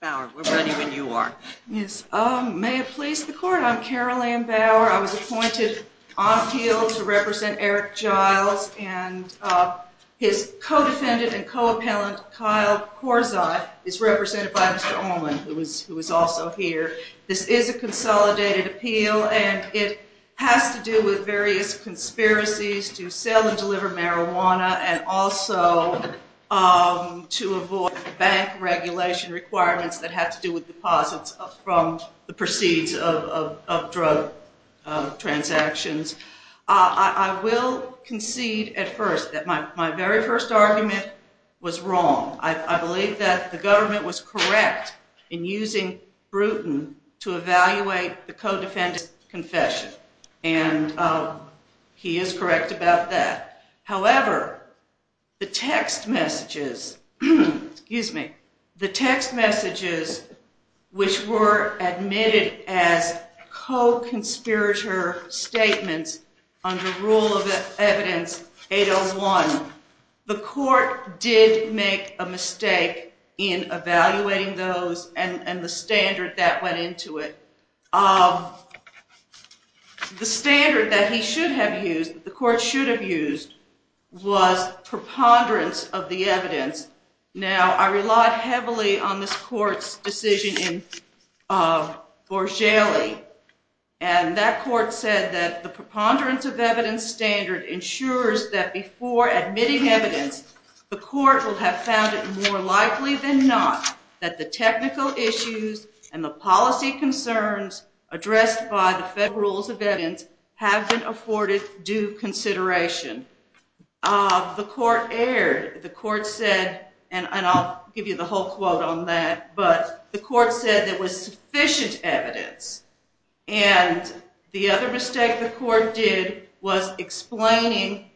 Bower, we're ready when you are. Yes, may it please the court, I'm Carolyn Bower, I was appointed on appeal to represent Eric Giles and his co-defendant and co-appellant Kyle Corzine is represented by Mr. Ullman, who was also here. This is a consolidated appeal and it has to do with various conspiracies to sell and regulation requirements that have to do with deposits from the proceeds of drug transactions. I will concede at first that my very first argument was wrong. I believe that the government was correct in using Bruton to evaluate the co-defendant's confession and he is correct about that. However, the text messages, excuse me, the text messages which were admitted as co-conspirator statements under rule of evidence 801, the court did make a mistake in evaluating those and the standard that went into it. The standard that he should have used, the I relied heavily on this court's decision in Borgelli and that court said that the preponderance of evidence standard ensures that before admitting evidence, the court will have found it more likely than not that the technical issues and the policy concerns addressed by the federal rules of evidence have been afforded due consideration. The court erred. The court said, and I'll give you the whole quote on that, but the court said there was sufficient evidence and the other mistake the court did was explaining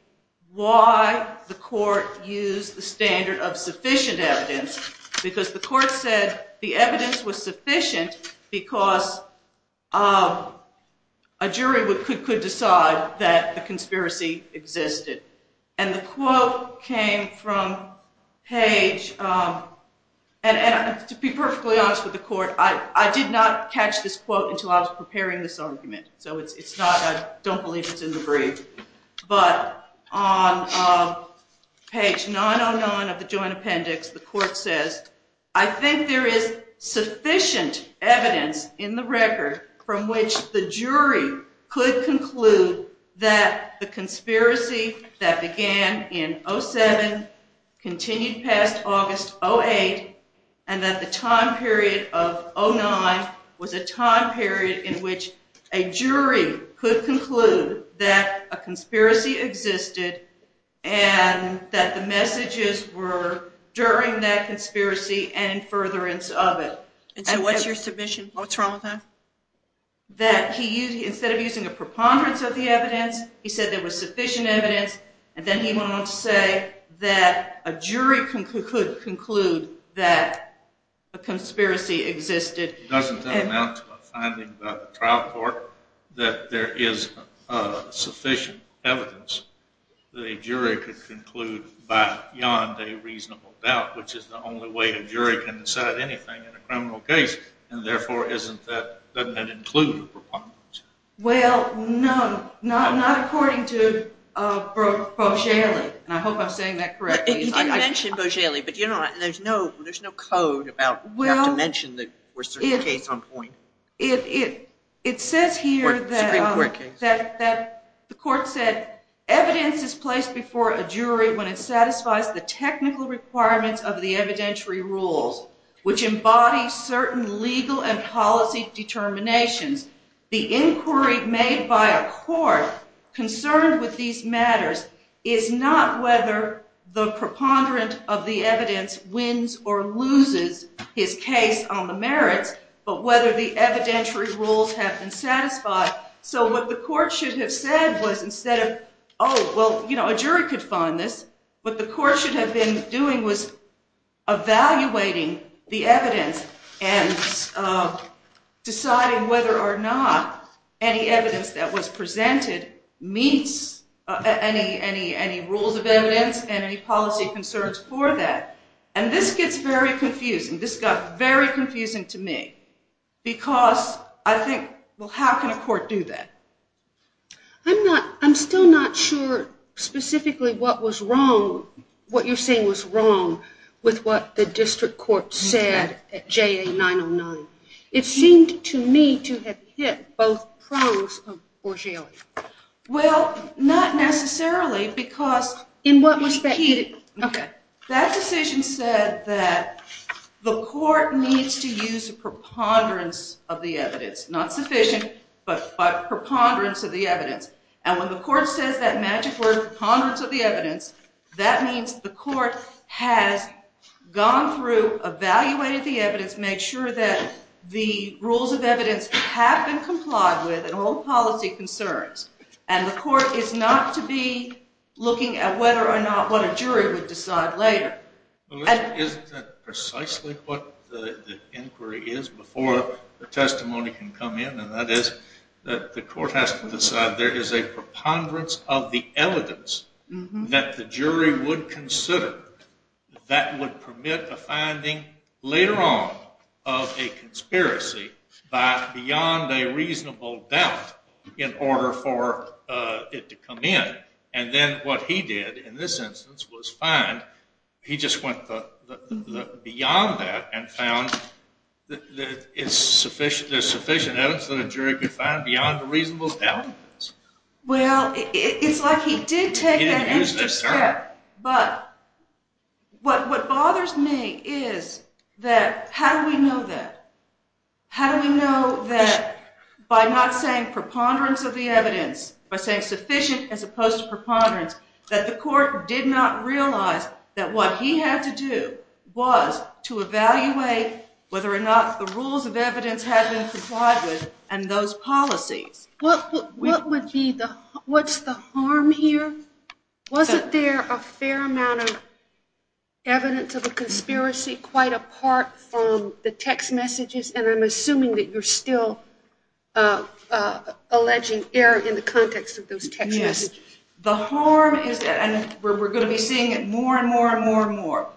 why the court used the standard of sufficient evidence because the court said the evidence was that the conspiracy existed and the quote came from page, and to be perfectly honest with the court, I did not catch this quote until I was preparing this argument, so it's not, I don't believe it's in the brief, but on page 909 of the joint appendix, the court says, I think there is sufficient evidence in the that the conspiracy that began in 07 continued past August 08 and that the time period of 09 was a time period in which a jury could conclude that a conspiracy existed and that the messages were during that conspiracy and furtherance of it. And so what's your submission? What's wrong with that? That he used, instead of using a preponderance of the evidence, he said there was sufficient evidence and then he went on to say that a jury could conclude that a conspiracy existed. Doesn't that amount to a finding by the trial court that there is sufficient evidence the jury could conclude by beyond a reasonable doubt which is the only way a jury can decide anything in a criminal case and therefore isn't that, doesn't that include a preponderance? Well, no, not according to Boeshele, and I hope I'm saying that correctly. You did mention Boeshele, but you know there's no code about, you have to mention that we're certifying a case on point. It says here that the court said evidence is placed before a jury when it satisfies the technical requirements of the determinations. The inquiry made by a court concerned with these matters is not whether the preponderance of the evidence wins or loses his case on the merits, but whether the evidentiary rules have been satisfied. So what the court should have said was instead of, oh, well, you know, a jury could find this, what the court should have been doing was evaluating the evidence and deciding whether or not any evidence that was presented meets any rules of evidence and any policy concerns for that. And this gets very confusing. This got very confusing to me because I think, well, how can a court do that? I'm still not sure specifically what was wrong, what you're saying was wrong with what the district court said at JA 909. It seemed to me to have hit both pros of Boeshele. Well, not necessarily because that decision said that the court needs to use a preponderance of the evidence, not sufficient, but preponderance of the evidence. And when the court says that magic word, preponderance of the evidence, that means the court has gone through, evaluated the evidence, made sure that the rules of evidence have been complied with and all policy concerns. And the court is not to be looking at whether or not what a jury would decide later. Isn't that precisely what the inquiry is before the testimony can come in? And that is that the court has to decide there is a preponderance of the evidence that the jury would consider that would permit a finding later on of a conspiracy beyond a reasonable doubt in order for it to come in. And then what he did in this instance was find, he just went beyond that and found that there's sufficient evidence that a jury could find beyond a reasonable doubt. Well, it's like he did take that extra step, but what bothers me is that how do we know that? How do we know that by not saying preponderance of the evidence, by saying sufficient as opposed to preponderance, that the court did not realize that what he had to do was to evaluate whether or not the rules of evidence had been complied with and those policies. What would be the, what's the harm here? Wasn't there a fair amount of evidence of a conspiracy quite apart from the text messages? And I'm assuming that you're still alleging error in the context of those text messages. The harm is that, and we're going to be seeing it more and more and more and more,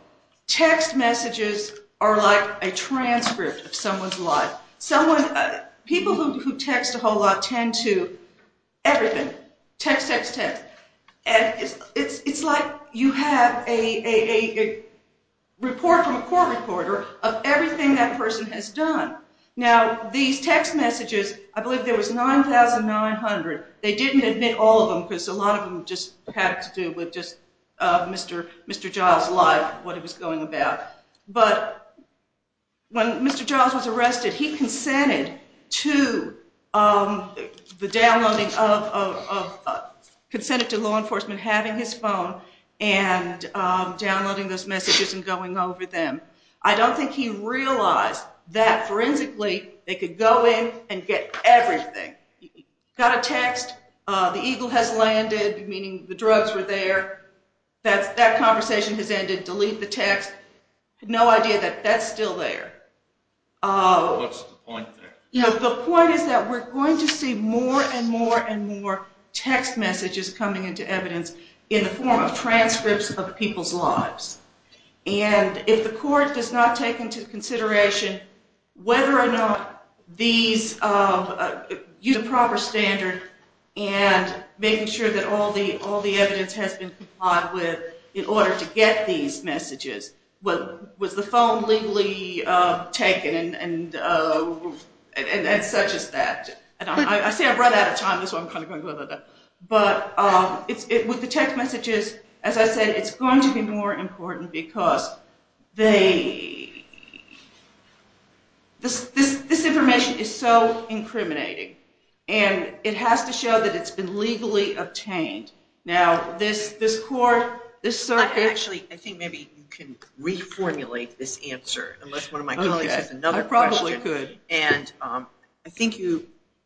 text messages are like a transcript of someone's life. People who text a whole lot tend to everything, text, text, text. And it's like you have a report from a court reporter of everything that person has done. Now, these text messages, I believe there was 9,900. They didn't admit all of them because a lot of them just had to do with just Mr. Giles' life, what he was going about. But when Mr. Giles was arrested, he consented to the downloading of, consented to law enforcement having his phone and downloading those messages and going over them. I don't think he realized that forensically they could go in and get everything. He got a text. The eagle has landed, meaning the drugs were there. That conversation has ended. Delete the text. He had no idea that that's still there. What's the point there? And such as that. I say I'm running out of time, but with the text messages, as I said, it's going to be more important because this information is so incriminating, and it has to show that it's been legally obtained. Now, this court, this circuit. Actually, I think maybe you can reformulate this answer, unless one of my colleagues has another question. I probably could. And I think you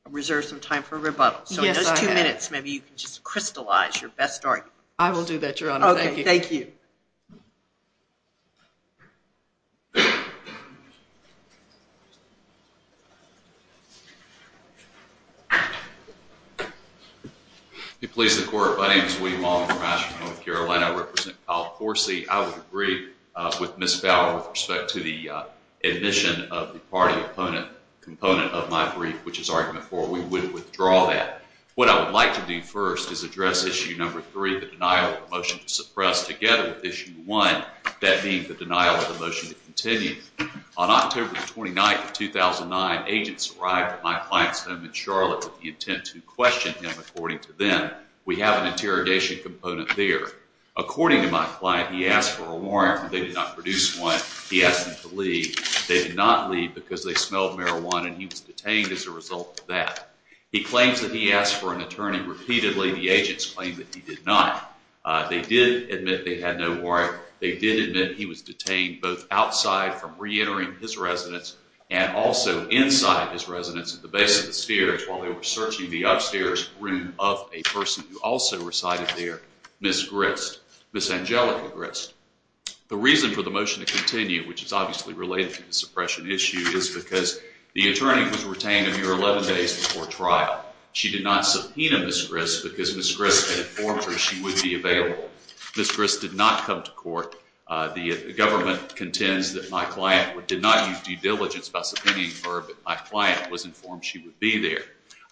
reserved some time for rebuttal. So in those two minutes, maybe you can just crystallize your best argument. I will do that, Your Honor. Thank you. Okay. Thank you. If you please, the court. My name is Weedy Long. I'm from Asheville, North Carolina. I represent Kyle Forsey. I would agree with Ms. Fowler with respect to the admission of the party component of my brief, which is argument four. We would withdraw that. What I would like to do first is address issue number three, the denial of a motion to suppress, together with issue one, that being the denial of a motion to continue. On October 29, 2009, agents arrived at my client's home in Charlotte with the intent to question him, according to them. We have an interrogation component there. According to my client, he asked for a warrant, but they did not produce one. He asked them to leave. They did not leave because they smelled marijuana, and he was detained as a result of that. He claims that he asked for an attorney. Repeatedly, the agents claimed that he did not. They did admit they had no warrant. They did admit he was detained both outside from reentering his residence and also inside his residence at the base of the stairs while they were searching the upstairs room of a person who also resided there, Ms. Grist, Ms. Angelica Grist. The reason for the motion to continue, which is obviously related to the suppression issue, is because the attorney was retained a mere 11 days before trial. She did not subpoena Ms. Grist because Ms. Grist had informed her she would be available. Ms. Grist did not come to court. The government contends that my client did not use due diligence by subpoenaing her, but my client was informed she would be there.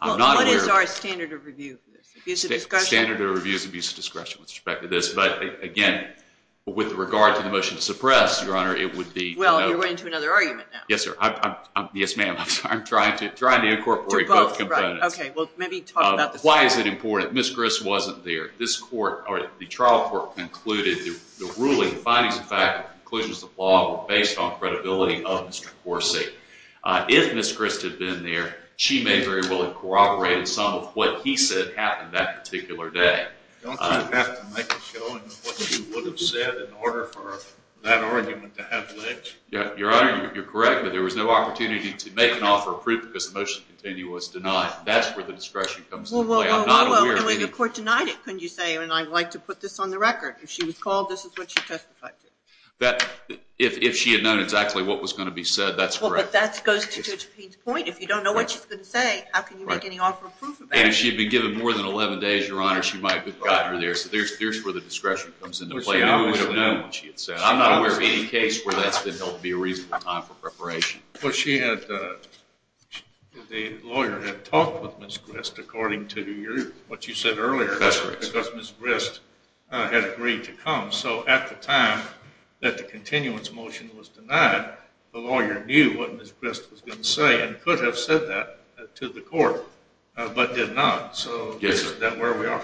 What is our standard of review? Standard of review is abuse of discretion with respect to this. But again, with regard to the motion to suppress, Your Honor, it would be- Well, you're going to another argument now. Yes, sir. Yes, ma'am. I'm sorry. I'm trying to incorporate both components. To both. Right. OK. Well, maybe talk about the- Why is it important? Ms. Grist wasn't there. This court, or the trial court, concluded the ruling, the findings of fact, the conclusions of the law were based on credibility of Mr. Corsi. If Ms. Grist had been there, she may very well have corroborated some of what he said happened that particular day. Don't you have to make a showing of what you would have said in order for that argument to have ledge? Your Honor, you're correct, but there was no opportunity to make an offer of proof because the motion to continue was denied. That's where the discretion comes into play. I'm not aware of any- Well, the court denied it, couldn't you say? And I'd like to put this on the record. If she was called, this is what she testified to. If she had known exactly what was going to be said, that's correct. Well, but that goes to Judge Payne's point. If you don't know what she's going to say, how can you make any offer of proof about it? Judge Payne, if she had been given more than 11 days, Your Honor, she might have gotten her there. So there's where the discretion comes into play. I'm not aware of any case where that's been held to be a reasonable time for preparation. Well, the lawyer had talked with Ms. Grist according to what you said earlier because Ms. Grist had agreed to come. So at the time that the continuance motion was denied, the lawyer knew what Ms. Grist was going to say and could have said that to the court but did not, so that's where we are.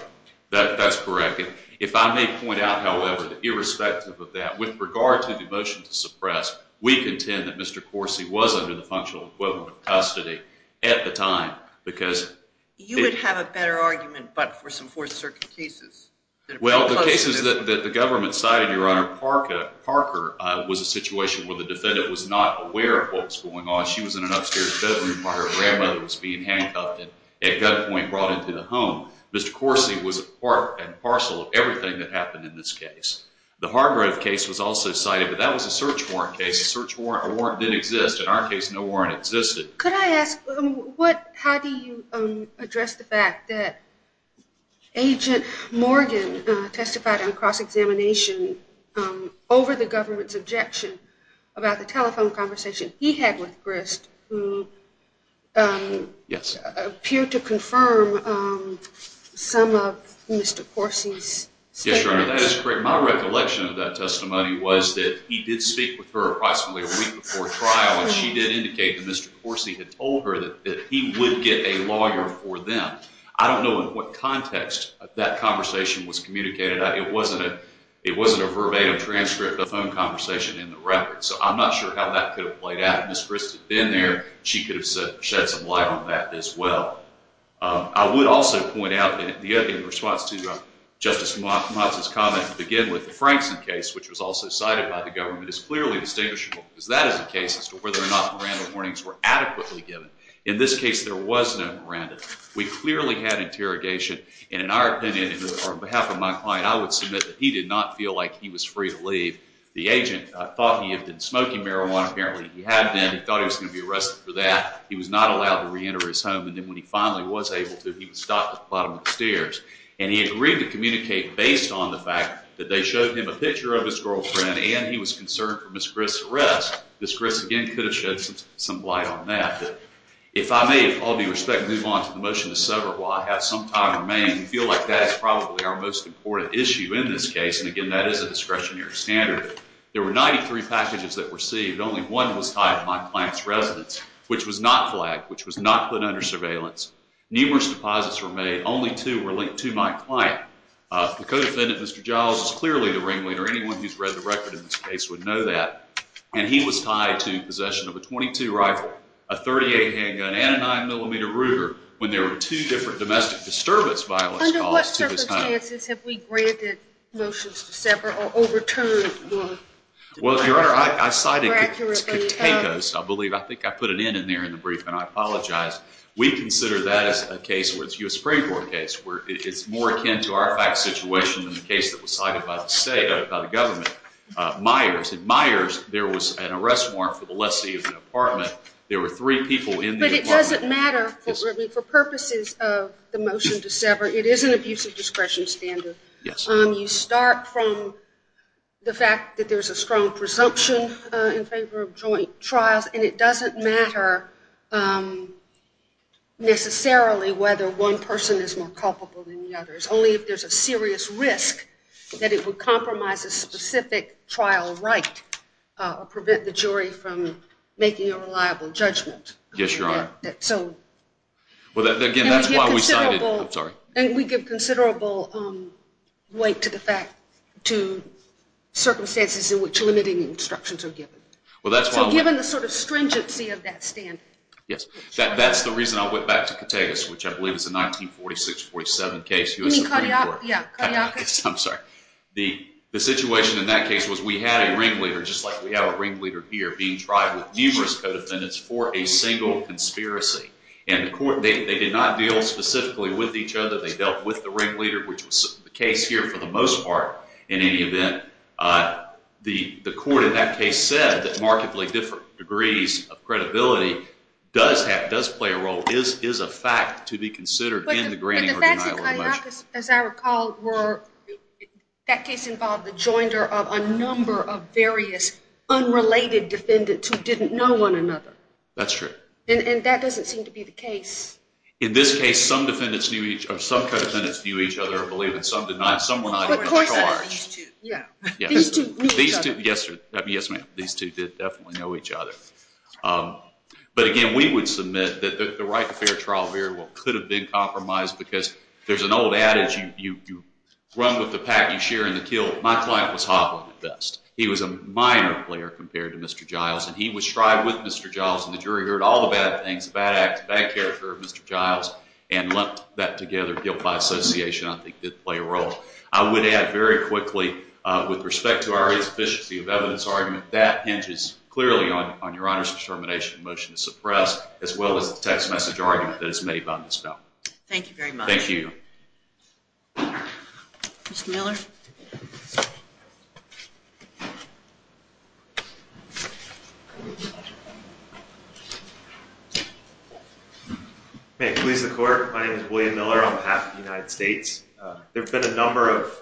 That's correct. If I may point out, however, that irrespective of that, with regard to the motion to suppress, we contend that Mr. Corsi was under the functional equivalent of custody at the time because You would have a better argument but for some Fourth Circuit cases. Well, the cases that the government cited, Your Honor, Parker was a situation where the defendant was not aware of what was going on. She was in an upstairs bedroom while her grandmother was being handcuffed and at gunpoint brought into the home. Mr. Corsi was a part and parcel of everything that happened in this case. The Hargrove case was also cited, but that was a search warrant case. A search warrant didn't exist. In our case, no warrant existed. Could I ask how do you address the fact that Agent Morgan testified on cross-examination over the government's objection about the telephone conversation he had with Grist who appeared to confirm some of Mr. Corsi's statements? Yes, Your Honor, that is correct. My recollection of that testimony was that he did speak with her approximately a week before trial and she did indicate that Mr. Corsi had told her that he would get a lawyer for them. I don't know in what context that conversation was communicated. It wasn't a verbatim transcript of the phone conversation in the record. So I'm not sure how that could have played out. If Ms. Grist had been there, she could have shed some light on that as well. I would also point out in response to Justice Matsa's comment to begin with, the Frankson case, which was also cited by the government, is clearly distinguishable because that is a case as to whether or not Miranda warnings were adequately given. In this case, there was no Miranda. We clearly had interrogation. In our opinion, on behalf of my client, I would submit that he did not feel like he was free to leave. The agent thought he had been smoking marijuana. Apparently, he had been. He thought he was going to be arrested for that. He was not allowed to reenter his home. And then when he finally was able to, he was stopped at the bottom of the stairs. And he agreed to communicate based on the fact that they showed him a picture of his girlfriend and he was concerned for Ms. Grist's arrest. Ms. Grist, again, could have shed some light on that. If I may, with all due respect, move on to the motion to sever while I have some time remaining, we feel like that is probably our most important issue in this case. And again, that is a discretionary standard. There were 93 packages that were received. Only one was tied to my client's residence, which was not flagged, which was not put under surveillance. Numerous deposits were made. Only two were linked to my client. The co-defendant, Mr. Giles, is clearly the ringleader. Anyone who's read the record in this case would know that. And he was tied to possession of a .22 rifle, a .38 handgun, and a 9mm Ruger when there were two different domestic disturbance violence calls to his home. Under what circumstances have we granted motions to sever or overturned one? Well, Your Honor, I cited Katakos, I believe. I think I put it in in there in the brief, and I apologize. We consider that as a case where it's a U.S. Supreme Court case. It's more akin to our fact situation than the case that was cited by the state, by the government. In Myers, there was an arrest warrant for the lessee of the apartment. There were three people in the apartment. But it doesn't matter for purposes of the motion to sever. It is an abusive discretion standard. You start from the fact that there's a strong presumption in favor of joint trials, and it doesn't matter necessarily whether one person is more culpable than the others. Only if there's a serious risk that it would compromise a specific trial right or prevent the jury from making a reliable judgment. Yes, Your Honor. And we give considerable weight to the fact, to circumstances in which limiting instructions are given. So given the sort of stringency of that standard. Yes. That's the reason I went back to Categos, which I believe is a 1946-47 case, U.S. Supreme Court. I'm sorry. The situation in that case was we had a ringleader, just like we have a ringleader here, being tried with numerous co-defendants for a single conspiracy. And they did not deal specifically with each other. They dealt with the ringleader, which was the case here for the most part in any event. The court in that case said that markedly different degrees of credibility does play a role, is a fact to be considered in the granting or denial of a measure. But the facts in Cahillacas, as I recall, were that case involved the joinder of a number of various unrelated defendants who didn't know one another. That's true. And that doesn't seem to be the case. In this case, some co-defendants knew each other, I believe, and some did not. But of course it's these two. These two knew each other. Yes, ma'am. These two did definitely know each other. But again, we would submit that the right to fair trial very well could have been compromised because there's an old adage, you run with the pack, you share in the kill. My client was hobbling at best. He was a minor player compared to Mr. Giles, and he was tried with Mr. Giles, and the jury heard all the bad things, bad acts, bad character of Mr. Giles, and lumped that together, guilt by association, I think, did play a role. I would add very quickly, with respect to our insufficiency of evidence argument, that hinges clearly on your Honor's determination of motion to suppress, as well as the text message argument that is made by Ms. Bell. Thank you very much. Thank you. Mr. Miller? May it please the Court. My name is William Miller on behalf of the United States. There have been a number of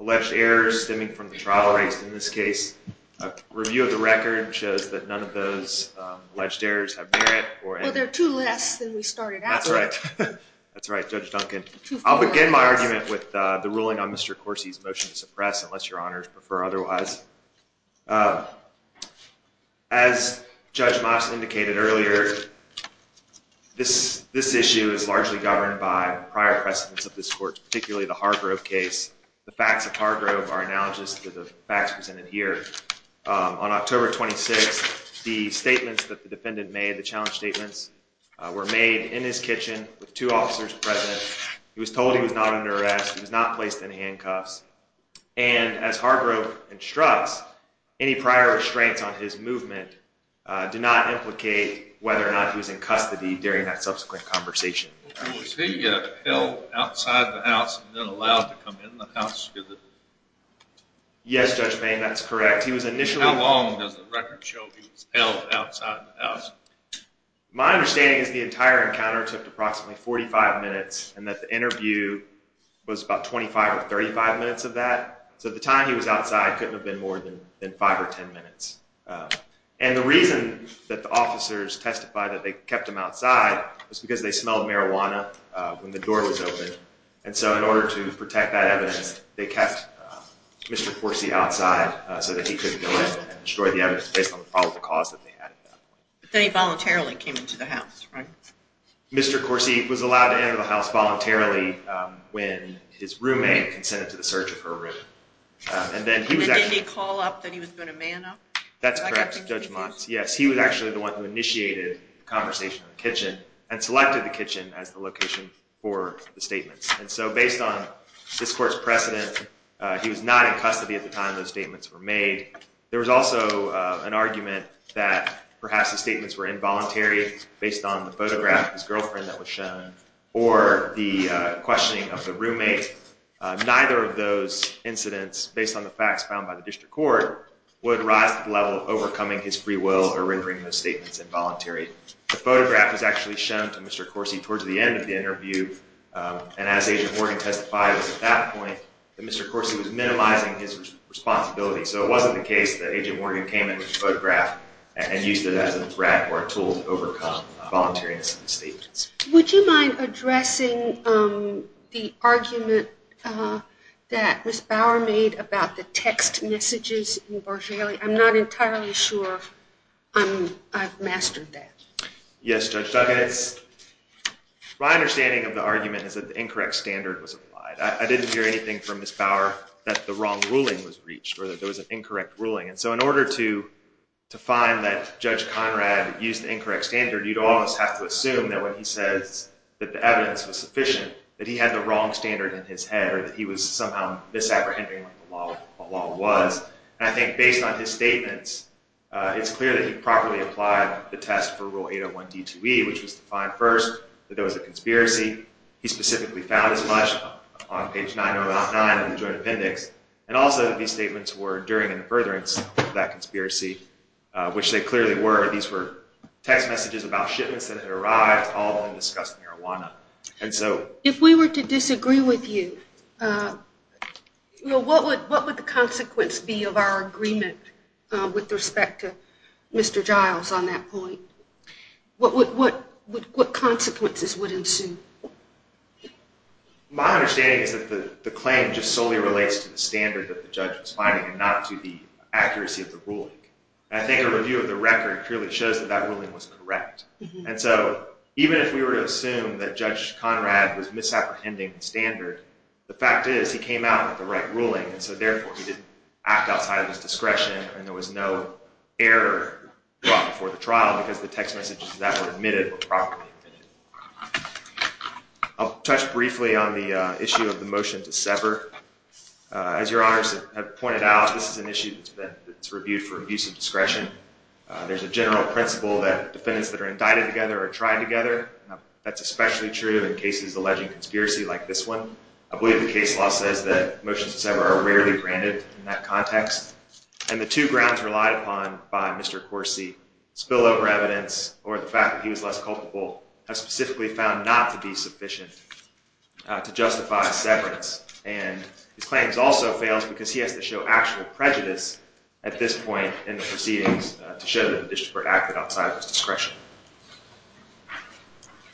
alleged errors stemming from the trial rights in this case. A review of the record shows that none of those alleged errors have merit. Well, there are two less than we started out with. That's right. That's right, Judge Duncan. I'll begin my argument with the ruling on Mr. Corsi's motion to suppress, unless your Honors prefer otherwise. As Judge Moss indicated earlier, this issue is largely governed by prior precedents of this Court, particularly the Hargrove case. The facts of Hargrove are analogous to the facts presented here. On October 26th, the statements that the defendant made, the challenge statements, were made in his kitchen with two officers present. He was told he was not under arrest. He was not placed in handcuffs. And as Hargrove instructs, any prior restraints on his movement do not implicate whether or not he was in custody during that subsequent conversation. Was he held outside the house and then allowed to come in the house? Yes, Judge Bain, that's correct. How long does the record show he was held outside the house? My understanding is the entire encounter took approximately 45 minutes and that the interview was about 25 or 35 minutes of that. So the time he was outside couldn't have been more than 5 or 10 minutes. And the reason that the officers testified that they kept him outside was because they smelled marijuana when the door was open, and so in order to protect that evidence, they kept Mr. Corsi outside so that he couldn't go in and destroy the evidence based on the probable cause that they had. But then he voluntarily came into the house, right? Mr. Corsi was allowed to enter the house voluntarily when his roommate consented to the search of her room. And then he was actually... And did he call up that he was going to man up? That's correct, Judge Mons. Yes, he was actually the one who initiated the conversation in the kitchen and selected the kitchen as the location for the statements. And so based on this court's precedent, he was not in custody at the time those statements were made. There was also an argument that perhaps the statements were involuntary based on the photograph of his girlfriend that was shown, or the questioning of the roommate. Neither of those incidents, based on the facts found by the district court, would rise to the level of overcoming his free will or rendering those statements involuntary. The photograph was actually shown to Mr. Corsi towards the end of the interview, and as Agent Morgan testified at that point, that Mr. Corsi was minimizing his responsibility. So it wasn't the case that Agent Morgan came in with the photograph and used it as a threat or a tool to overcome voluntariness in the statements. Would you mind addressing the argument that Ms. Bower made about the text messages in Bargelli? I'm not entirely sure I've mastered that. Yes, Judge Duggan. My understanding of the argument is that the incorrect standard was applied. I didn't hear anything from Ms. Bower that the wrong ruling was reached or that there was an incorrect ruling. So in order to find that Judge Conrad used the incorrect standard, you'd almost have to assume that when he says that the evidence was sufficient, that he had the wrong standard in his head or that he was somehow misapprehending what the law was. I think based on his statements, it's clear that he properly applied the test for Rule 801 D2E, which was to find first that there was a conspiracy. He specifically found as much on page 909 of the joint appendix. And also these statements were during and in furtherance of that conspiracy, which they clearly were. These were text messages about shipments that had arrived, all in disgusting marijuana. If we were to disagree with you, what would the consequence be of our agreement with respect to Mr. Giles on that point? What consequences would ensue? My understanding is that the claim just solely relates to the standard that the judge was finding and not to the accuracy of the ruling. I think a review of the record clearly shows that that ruling was correct. And so even if we were to assume that Judge Conrad was misapprehending the standard, the fact is he came out with the right ruling, and so therefore he didn't act outside of his discretion and there was no error brought before the trial because the text messages to that were admitted or properly admitted. I'll touch briefly on the issue of the motion to sever. As Your Honors have pointed out, this is an issue that's reviewed for abuse of discretion. There's a general principle that defendants that are indicted together are tried together. That's especially true in cases alleging conspiracy like this one. I believe the case law says that motions to sever are rarely granted in that context, and the two grounds relied upon by Mr. Corsi, spillover evidence or the fact that he was less culpable, have specifically found not to be sufficient to justify severance. And his claim also fails because he has to show actual prejudice at this point in the proceedings to show that the district acted outside of his discretion.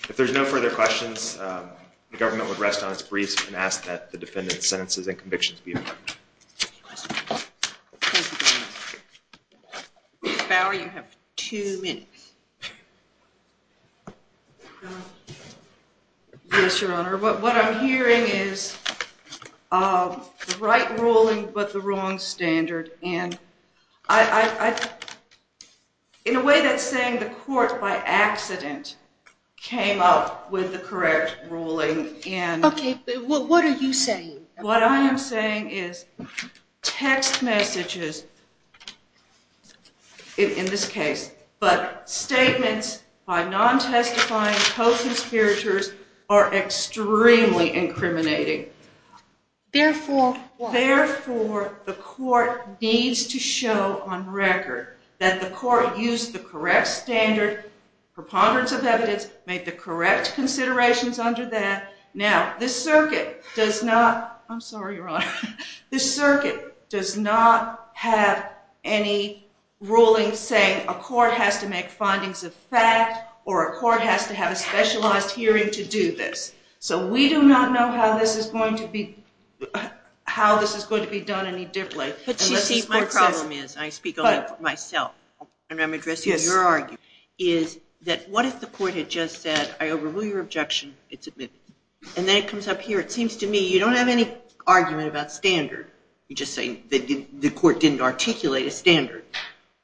If there's no further questions, the government would rest on its briefs and ask that the defendant's sentences and convictions be approved. Any questions? Ms. Bower, you have two minutes. Yes, Your Honor. What I'm hearing is the right ruling but the wrong standard, and in a way that's saying the court by accident came up with the correct ruling. Okay, but what are you saying? What I am saying is text messages, in this case, but statements by non-testifying co-conspirators are extremely incriminating. Therefore what? It needs to show on record that the court used the correct standard, preponderance of evidence, made the correct considerations under that. Now, this circuit does not have any ruling saying a court has to make findings of fact or a court has to have a specialized hearing to do this. So we do not know how this is going to be done any differently. My problem is, and I speak only for myself, and I'm addressing your argument, is that what if the court had just said, I overrule your objection, it's admitted. And then it comes up here. It seems to me you don't have any argument about standard. You just say the court didn't articulate a standard.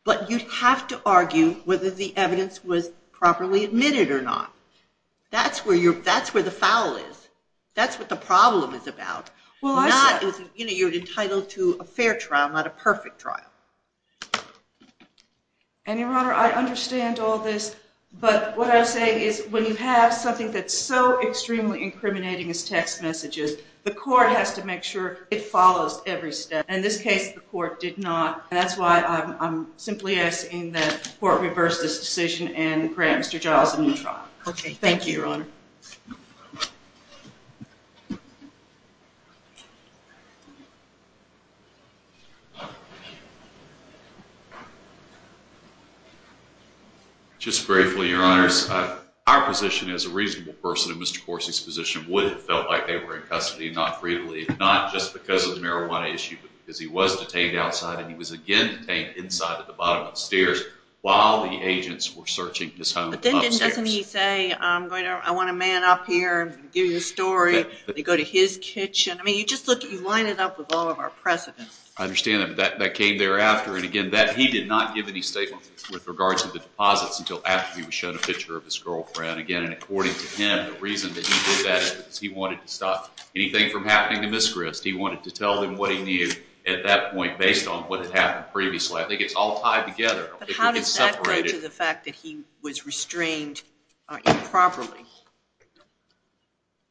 But you'd have to argue whether the evidence was properly admitted or not. That's where the foul is. That's what the problem is about. You're entitled to a fair trial, not a perfect trial. Your Honor, I understand all this, but what I'm saying is when you have something that's so extremely incriminating as text messages, the court has to make sure it follows every step. In this case, the court did not. That's why I'm simply asking that the court reverse this decision Thank you, Your Honor. Thank you. Just briefly, Your Honors, our position as a reasonable person in Mr. Corsi's position would have felt like they were in custody and not free to leave, not just because of the marijuana issue, but because he was detained outside and he was again detained inside at the bottom of the stairs while the agents were searching his home upstairs. But then doesn't he say, I want a man up here, give you a story, they go to his kitchen? I mean, you just line it up with all of our precedents. I understand that, but that came thereafter. And again, he did not give any statements with regards to the deposits until after he was shown a picture of his girlfriend. And again, according to him, the reason that he did that is because he wanted to stop anything from happening to Ms. Grist. He wanted to tell them what he knew at that point based on what had happened previously. I think it's all tied together. But how does that relate to the fact that he was restrained improperly?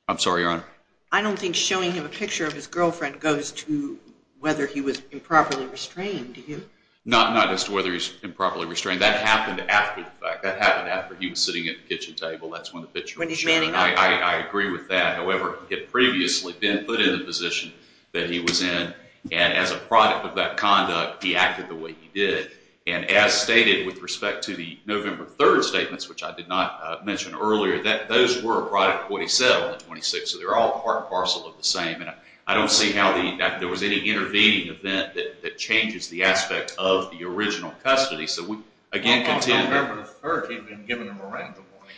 I'm sorry, Your Honor. I don't think showing him a picture of his girlfriend goes to whether he was improperly restrained, do you? Not as to whether he was improperly restrained. That happened after the fact. That happened after he was sitting at the kitchen table. That's when the picture was shown. I agree with that. However, he had previously been put in the position that he was in, and as a product of that conduct, he acted the way he did. And as stated with respect to the November 3rd statements, which I did not mention earlier, those were a product of what he said on the 26th, so they're all part and parcel of the same. And I don't see how there was any intervening event that changes the aspect of the original custody. So we again contend that— Well, on November the 3rd, he'd been given a Miranda warning.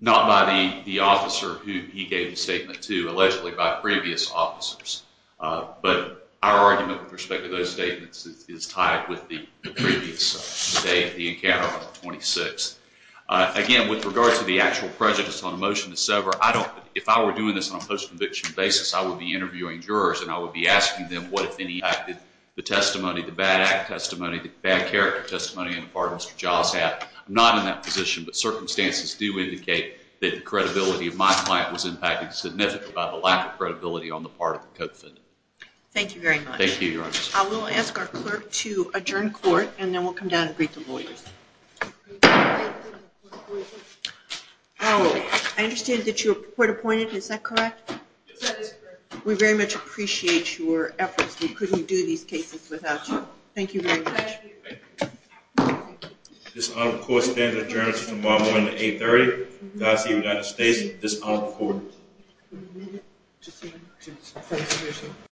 Not by the officer who he gave the statement to, allegedly by previous officers. But our argument with respect to those statements is tied with the previous day, the encounter on the 26th. Again, with regard to the actual prejudice on a motion to sever, if I were doing this on a post-conviction basis, I would be interviewing jurors and I would be asking them what, if any, impacted the testimony, the bad act testimony, the bad character testimony on the part of Mr. Giles. I'm not in that position, but circumstances do indicate that the credibility of my client was impacted significantly by the lack of credibility on the part of the co-defendant. Thank you very much. Thank you, Your Honor. I will ask our clerk to adjourn court, and then we'll come down and greet the lawyers. I understand that you were court appointed, is that correct? Yes, that is correct. We very much appreciate your efforts. We couldn't do these cases without you. Thank you very much. Thank you. This honor of the court stands adjourned until tomorrow morning at 8.30. Godspeed, United States. This honor of the court.